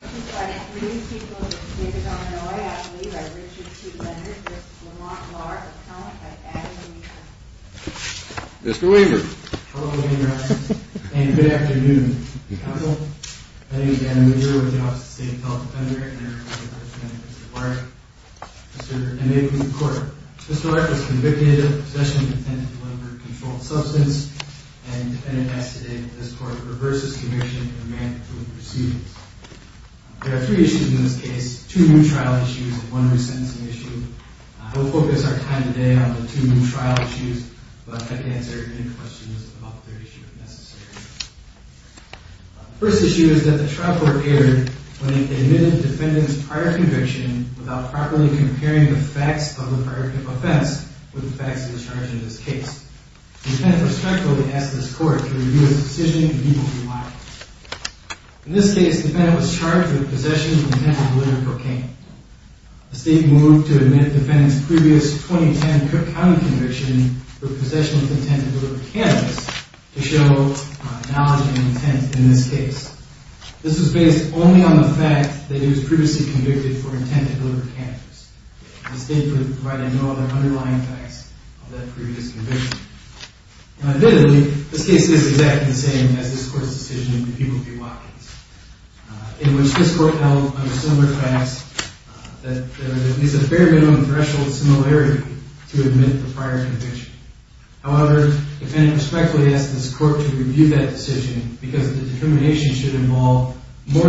Good afternoon, counsel. My name is Dan LeBure, I'm with the Office of the State Health Defender, and I represent Mr. Larke. Mr. Larke was convicted of possession of intent to deliver a controlled substance, and the defendant asked today that this court reverse his conviction and mandatory proceedings. There are three issues in this case, two new trial issues and one new sentencing issue. I will focus our time today on the two new trial issues, but I can answer any questions about the third issue if necessary. The first issue is that the trial court erred when it admitted the defendant's prior conviction without properly comparing the facts of the prior offense with the facts of the charge in this case. The defendant respectfully asked this court to review his decision and he will be liable. In this case, the defendant was charged with possession of intent to deliver cocaine. The state moved to admit the defendant's previous 2010 Cook County conviction for possession of intent to deliver cannabis to show knowledge and intent in this case. This was based only on the fact that he was previously convicted for intent to deliver cannabis. The state provided no other underlying facts of that previous conviction. Now admittedly, this case is exactly the same as this court's decision in the Peoples v. Watkins, in which this court held under similar facts that there was at least a bare minimum threshold similarity to admit the prior conviction. However, the defendant respectfully asked this court to review that decision because the determination should involve more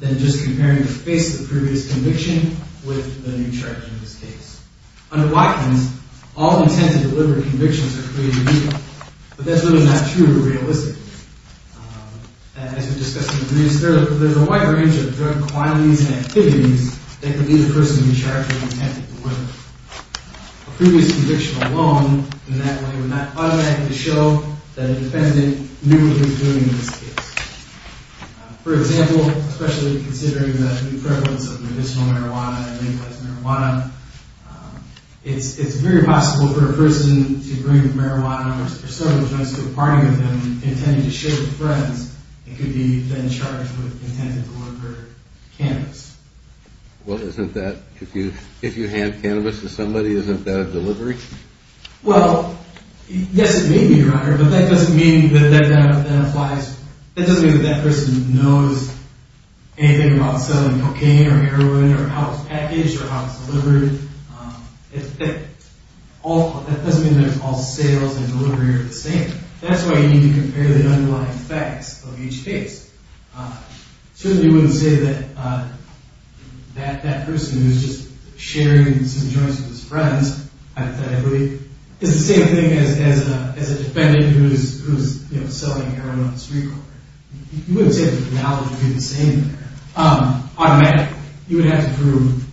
than just comparing the face of the previous conviction with the new charge in this case. Under Watkins, all intent to deliver convictions are created equal, but that's really not true realistically. As we discussed in the briefs, there's a wide range of drug quantities and activities that could lead a person to be charged with intent to deliver. A previous conviction alone in that way would not automatically show that a defendant knew what he was doing in this case. For example, especially considering the prevalence of medicinal marijuana and legalized marijuana, it's very possible for a person to bring marijuana or several drugs to a party with him, intending to share with friends, and could be then charged with intent to deliver cannabis. Well, isn't that, if you hand cannabis to somebody, isn't that a delivery? Well, yes it may be, Your Honor, but that doesn't mean that that person knows anything about selling cocaine or heroin or how it's packaged or how it's delivered. That doesn't mean that all sales and delivery are the same. That's why you need to compare the underlying facts of each case. Certainly you wouldn't say that that person who's just sharing some joints with his friends, hypothetically, is the same thing as a defendant who's selling heroin on the street corner. You wouldn't say that the analogy would be the same there. Automatically, you would have to prove,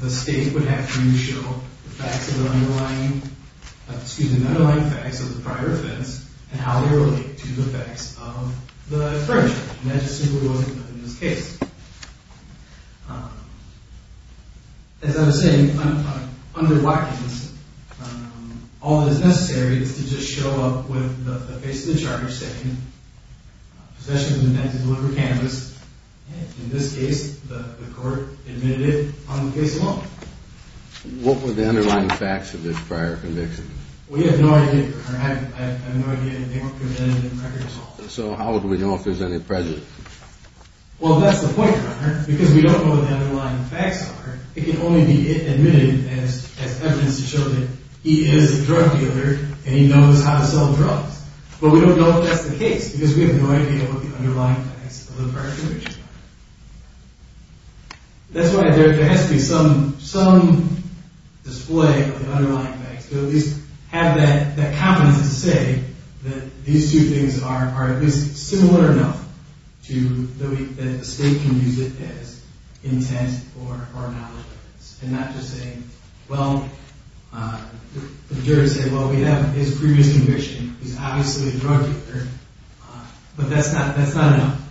the state would have to show the underlying facts of the prior offense and how they relate to the facts of the infringement. And that just simply wasn't the case. As I was saying, under Watkins, all that is necessary is to just show up with the face of the charge saying, possession of intent to deliver cannabis. In this case, the court admitted it on the case alone. What were the underlying facts of this prior conviction? We have no idea, Your Honor. I have no idea. They weren't presented in the records office. So how would we know if there's any prejudice? Well, that's the point, Your Honor, because we don't know what the underlying facts are. It can only be admitted as evidence to show that he is a drug dealer and he knows how to sell drugs. But we don't know if that's the case because we have no idea what the underlying facts of the prior conviction are. That's why there has to be some display of the underlying facts to at least have that confidence to say that these two things are at least similar enough. That the state can use it as intent or knowledge. And not just say, well, the jurors say, well, we have his previous conviction. He's obviously a drug dealer. But that's not enough.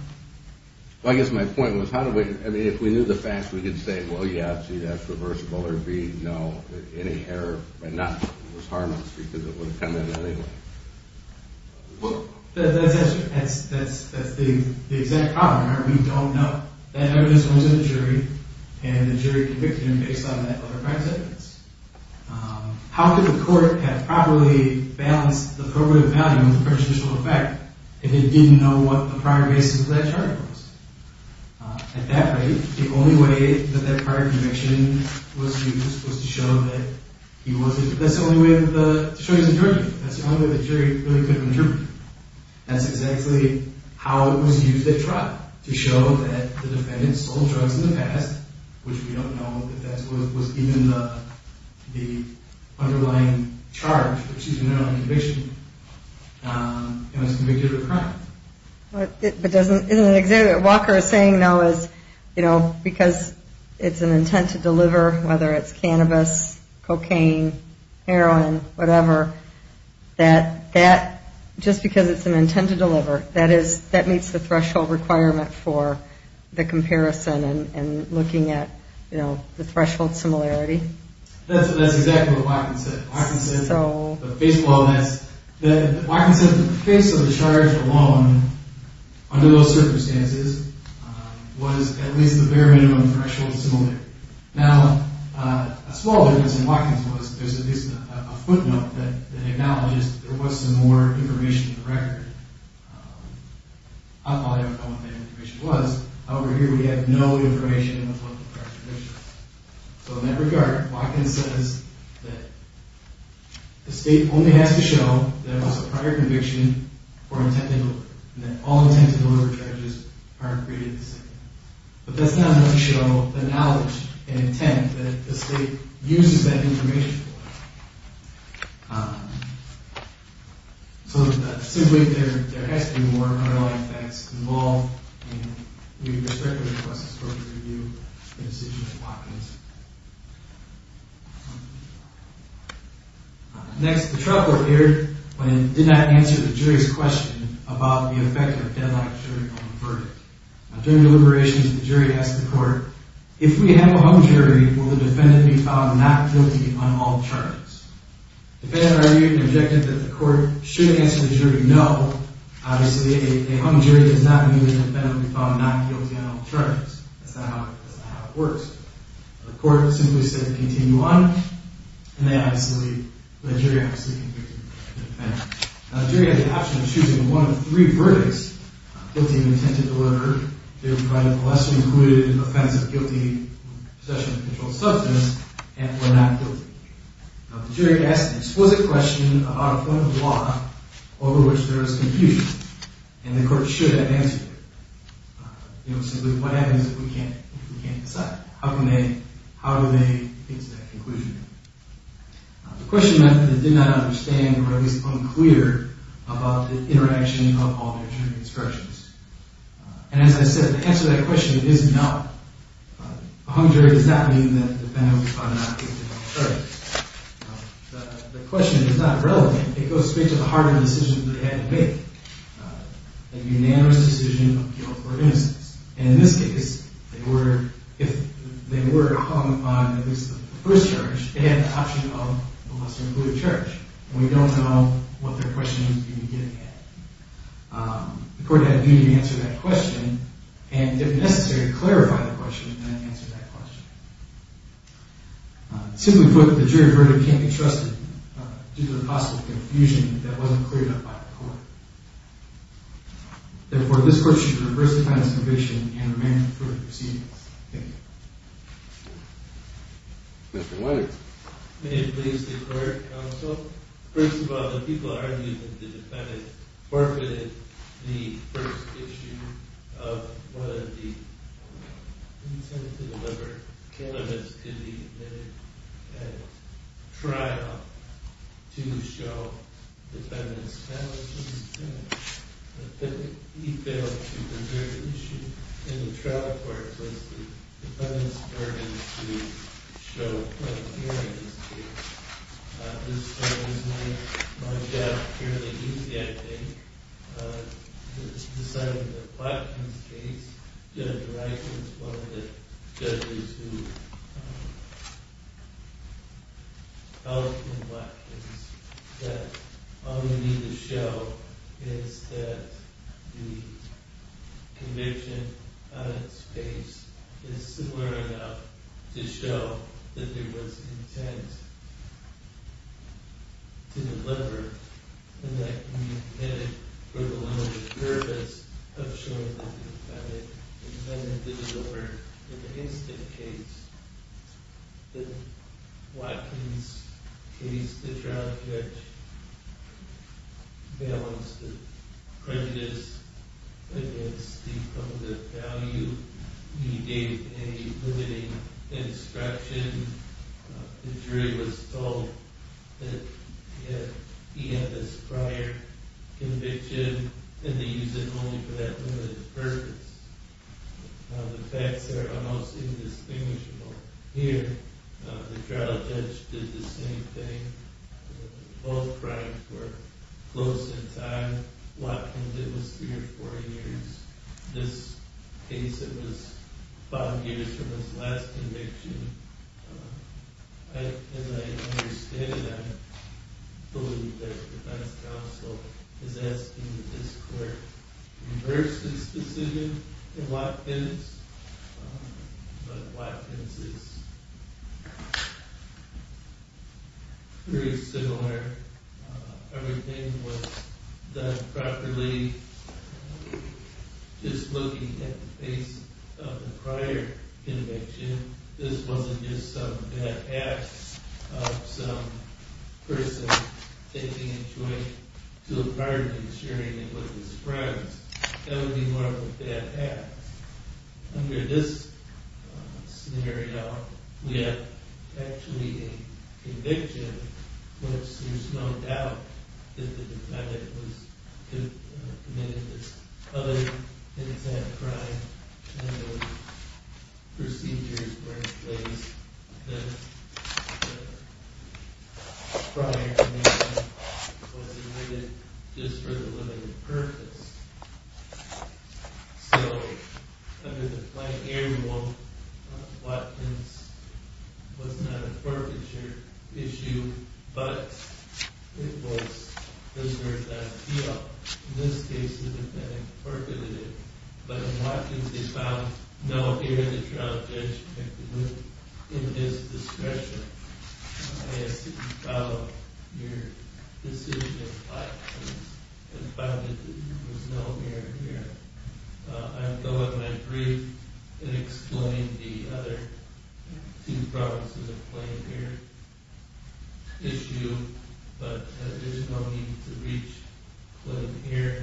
Well, I guess my point was, how do we, I mean, if we knew the facts, we could say, well, yeah, see, that's reversible, or B, no, any error. But not, it would harm us because it would have come in anyway. Well, that's the exact problem, right? We don't know that evidence was in the jury and the jury convicted him based on that prior sentence. How could the court have properly balanced the probative value of the prejudicial effect if it didn't know what the prior basis of that charge was? At that rate, the only way that that prior conviction was used was to show that he wasn't, that's the only way that the jury is a jury. That's the only way the jury really could have interpreted it. That's exactly how it was used at trial. To show that the defendant sold drugs in the past, which we don't know if that was even the underlying charge, which is an early conviction, and was convicted of a crime. But doesn't, isn't it, Walker is saying now is, you know, because it's an intent to deliver, whether it's cannabis, cocaine, heroin, whatever, that that, just because it's an intent to deliver, that is, that meets the threshold requirement for the comparison and looking at, you know, the threshold similarity? That's exactly what Watkins said. Watkins said, the face of the charge alone, under those circumstances, was at least the bare minimum threshold similarity. Now, a small difference in Watkins was there's at least a footnote that acknowledges there was some more information in the record. I probably don't know what that information was. Over here, we have no information in the footnote for attribution. So in that regard, Watkins says that the state only has to show that it was a prior conviction or intent to deliver, and that all intent to deliver charges are created the same. But that's not going to show the knowledge and intent that the state uses that information for. So, simply, there has to be more underlying facts involved, and we respectfully request the court to review the decision of Watkins. Next, the trial court aired and did not answer the jury's question about the effect of a deadlocked jury on the verdict. During deliberations, the jury asked the court, if we have a hung jury, will the defendant be found not guilty on all charges? The defendant argued and objected that the court should answer the jury, no. Obviously, a hung jury does not mean that the defendant will be found not guilty on all charges. That's not how it works. The court simply said, continue on. And they, obviously, let the jury continue to defend. Now, the jury had the option of choosing one of three verdicts, guilty of intent to deliver, guilty of a lesser included offense of guilty of possession of a controlled substance, and for not guilty. Now, the jury asked an explicit question about a point of the law over which there is confusion, and the court should have answered it. You know, simply, what happens if we can't decide? How do they get to that conclusion? The question meant that they did not understand, or at least unclear, about the interaction of all their jury instructions. And as I said, to answer that question, it is not. A hung jury does not mean that the defendant will be found not guilty on all charges. The question is not relevant. It goes straight to the harder decision they had to make, a unanimous decision of guilt or innocence. And in this case, if they were hung on at least the first charge, they had the option of a lesser included charge. And we don't know what their question was going to be getting at. The court had a duty to answer that question, and if necessary, clarify the question and then answer that question. Simply put, the jury verdict can't be trusted due to the possible confusion that wasn't cleared up by the court. Therefore, this court should reverse the defendant's conviction and remain in court proceedings. Thank you. Mr. White. May it please the court, counsel. First of all, the people argued that the defendant forfeited the first issue of one of the intended to deliver candidates to be admitted at trial to show defendant's talents. He failed to deliver the issue in the trial court once the defendant started to show what he was doing in this case. This trial was not lodged out fairly easy, I think. This side of the platform case, Judge Rice is one of the judges who helped in the platform case. All we need to show is that the conviction on its face is similar enough to show that there was intent to deliver and that he did it for the limited purpose of showing that the defendant did his work. In the Hastings case, the Watkins case, the trial judge balanced the prejudice against the public value. He gave a limiting instruction. The jury was told that he had this prior conviction and they used it only for that limited purpose. The facts are almost indistinguishable. Here, the trial judge did the same thing. Both crimes were close in time. Watkins, it was three or four years. This case, it was five years from his last conviction. As I understand it, I believe that the defense counsel is asking that this court reverse this decision in Watkins. But Watkins is very similar. Everything was done properly. Just looking at the face of the prior conviction, this wasn't just some bad act of some person taking a joint to a party and sharing it with his friends. That would be more of a bad act. Under this scenario, we have actually a conviction which there's no doubt that the defendant committed this other inexact crime. The procedures were in place. The prior conviction was limited just for the limited purpose. So, under the plenary rule, Watkins was not a forfeiture issue, but it was reserved as appeal. In this case, the defendant forfeited it. But in Watkins, they found no period of trial judgment in his discretion. I ask that you follow your decision in Watkins and find that there was no period here. I'll go with my brief and explain the other two provinces of claim here. Issue, but there's no need to reach claim here.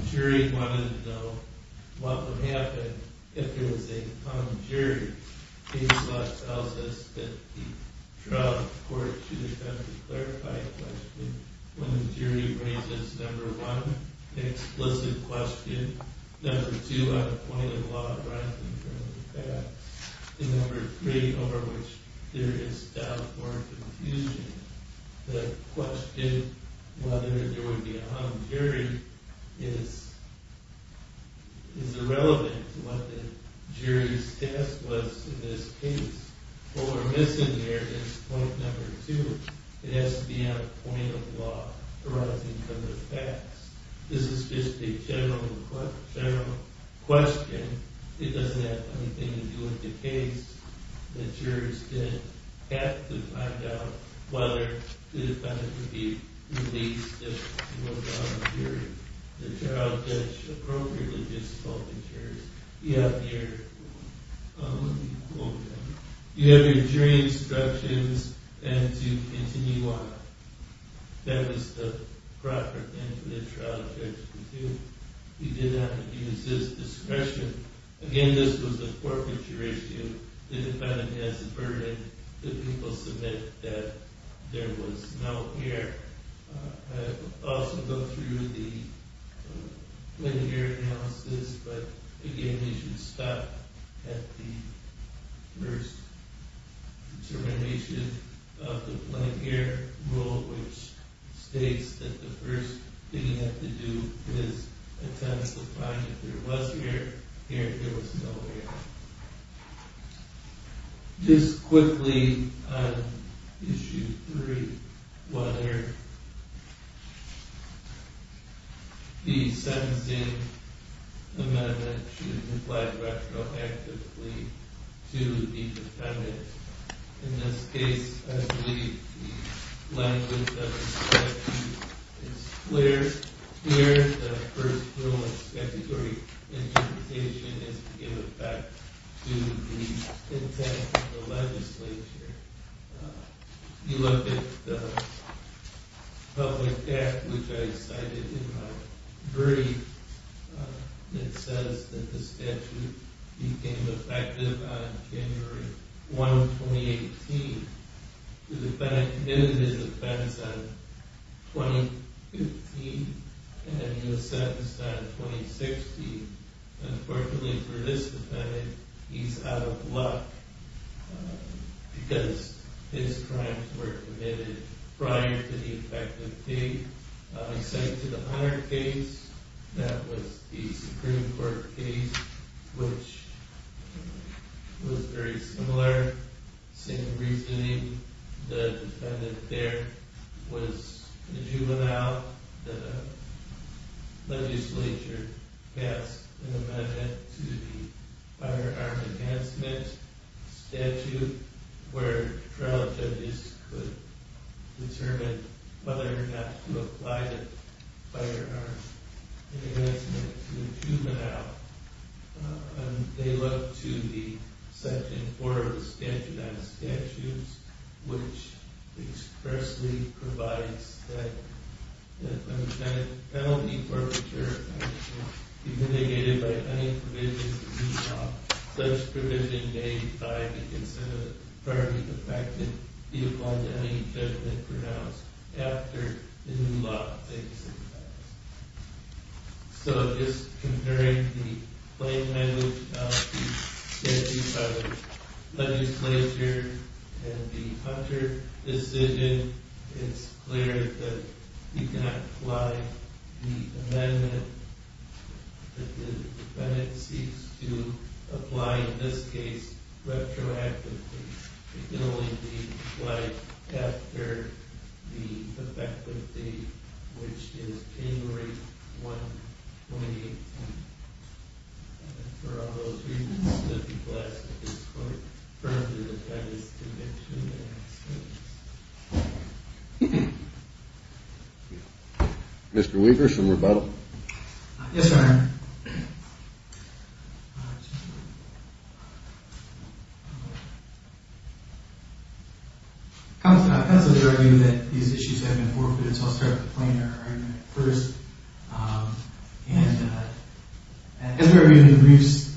The jury wanted to know what would happen if there was a non-jury case that tells us that the trial court should attempt to clarify the question when the jury raises number one, an explicit question. Number two, a point of law arising from the facts. And number three, over which there is doubt or confusion. The question whether there would be a non-jury is irrelevant to what the jury's task was in this case. What we're missing here is point number two. It has to be a point of law arising from the facts. This is just a general question. It doesn't have anything to do with the case. The jurors didn't have to find out whether the defendant would be released if there was a non-jury. The trial judge appropriately just told the jurors, you have your jury instructions and to continue on. That was the proper thing for the trial judge to do. He did not use his discretion. Again, this was a forfeiture issue. The defendant has the burden that people submit that there was no care. I will also go through the plain care analysis. But again, we should stop at the first determination of the plain care rule, which states that the first thing you have to do is attempt to find if there was care, if there was no care. Just quickly on issue three, whether the sentencing amendment should apply retroactively to the defendant. In this case, I believe the language of the statute is clear. The first rule of statutory interpretation is to give effect to the intent of the legislature. If you look at the public act, which I cited in my brief, it says that the statute became effective on January 1, 2018. The defendant committed his offense on 2015, and he was sentenced on 2016. Unfortunately for this defendant, he's out of luck because his crimes were committed prior to the effective date. I cited the Honor case. That was the Supreme Court case, which was very similar. Same reasoning. The defendant there was a juvenile. The legislature passed an amendment to the firearm enhancement statute, where federal judges could determine whether or not to apply the firearm enhancement to a juvenile. They look to the section four of the statute on the statutes, which expressly provides that a penalty for a mature offender should be mitigated by any provision to be dropped. Such provision may be applied to consider a prior defective, and be applied to any judgment pronounced after the new law takes effect. So just comparing the plain language of the statutes of the legislature and the Hunter decision, it's clear that you cannot apply the amendment. The defendant seeks to apply, in this case, retroactively. It can only be applied after the effective date, which is January 1, 2018. And for all those reasons, the defense is to continue to ask questions. Mr. Weaver, some rebuttal? Yes, Your Honor. Counselor, I have to argue that these issues have been forfeited, so I'll start with the plain error argument first. And as we've argued in the briefs,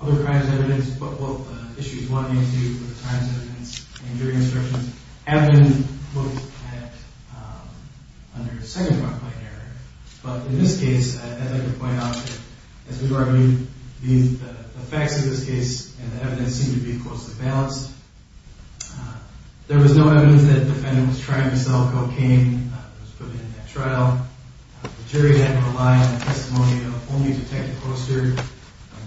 other crimes evidence, but what the issues wanted me to do with the crimes evidence and jury instructions, have been looked at under second-default plain error. But in this case, I'd like to point out that, as we've argued, the facts of this case and the evidence seem to be closely balanced. There was no evidence that the defendant was trying to sell cocaine. It was put in at trial. The jury had to rely on the testimony of only Detective Oster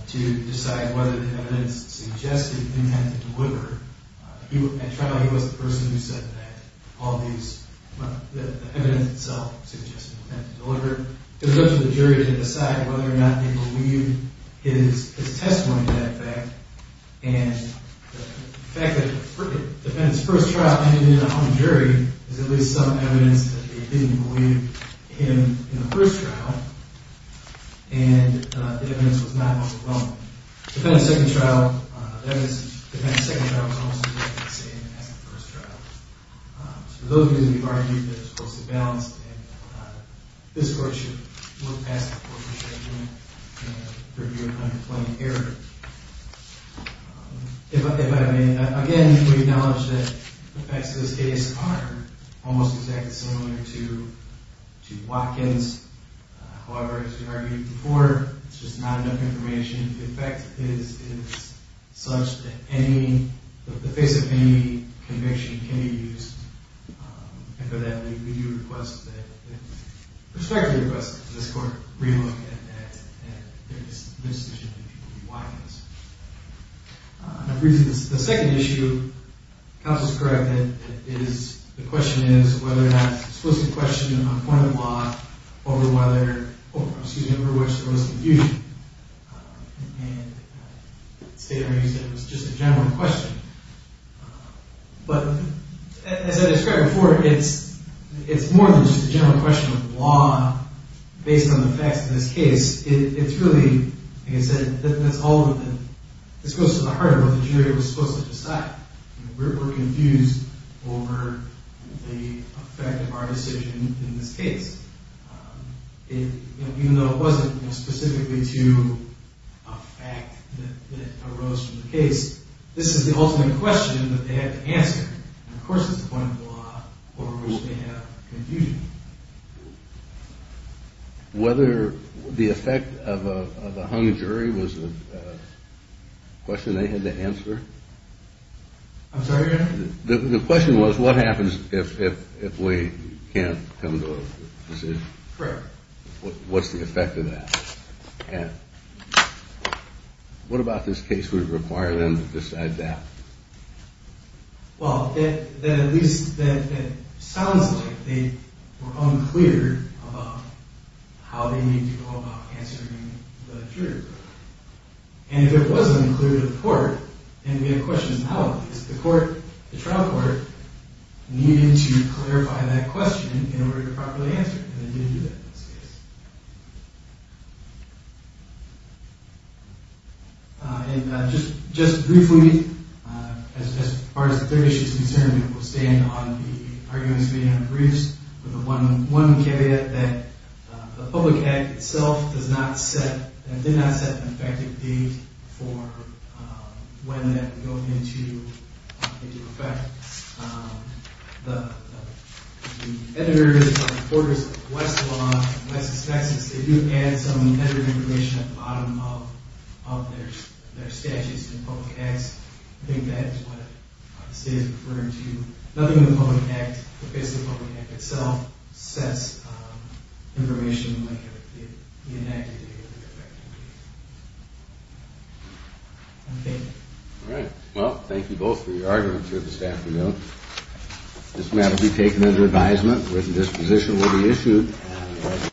to decide whether the evidence suggested he had to deliver. At trial, he was the person who said that the evidence itself suggested he had to deliver. It was up to the jury to decide whether or not they believed his testimony to that effect. And the fact that the defendant's first trial ended in a home jury is at least some evidence that they didn't believe him in the first trial. And the evidence was not what we wanted. The defendant's second trial was almost exactly the same as the first trial. For those reasons, we've argued that it's closely balanced, and this Court should look past the court's judgment and review it under plain error. If I may, again, we acknowledge that the facts of this case are almost exactly similar to Watkins. However, as we've argued before, it's just not enough information. In fact, it's such that the face of any conviction can be used. And for that, we respectfully request that this Court relook at the decision that people made. The second issue, counsel described it, the question is whether or not you're supposed to question a point of the law over whether, excuse me, over which there was confusion. And State Attorney said it was just a general question. But as I described before, it's more than just a general question of law, based on the facts of this case. It's really, like I said, that's all of the, this goes to the heart of what the jury was supposed to decide. We're confused over the effect of our decision in this case. Even though it wasn't specifically to a fact that arose from the case, this is the ultimate question that they had to answer. And, of course, it's a point of the law over which they have confusion. Whether the effect of a hung jury was a question they had to answer? I'm sorry? The question was what happens if we can't come to a decision? Correct. What's the effect of that? What about this case would require them to decide that? Well, at least that sounds like they were unclear about how they need to go about answering the jury. And if it wasn't clear to the court, then we have questions now. Because the trial court needed to clarify that question in order to properly answer it, and they didn't do that in this case. And just briefly, as far as the third issue is concerned, we'll stand on the arguments made in the briefs, with the one caveat that the public act itself does not set, did not set an effective date for when that would go into effect. The editors and reporters of Westlaw and West Texas, they do add some editor information at the bottom of their statutes and public acts. I think that is what the state is referring to. Nothing in the public act, the face of the public act itself, sets information like the enacted date of the effective date. Thank you. All right. Well, thank you both for your arguments here this afternoon. This matter will be taken under advisement. A written disposition will be issued.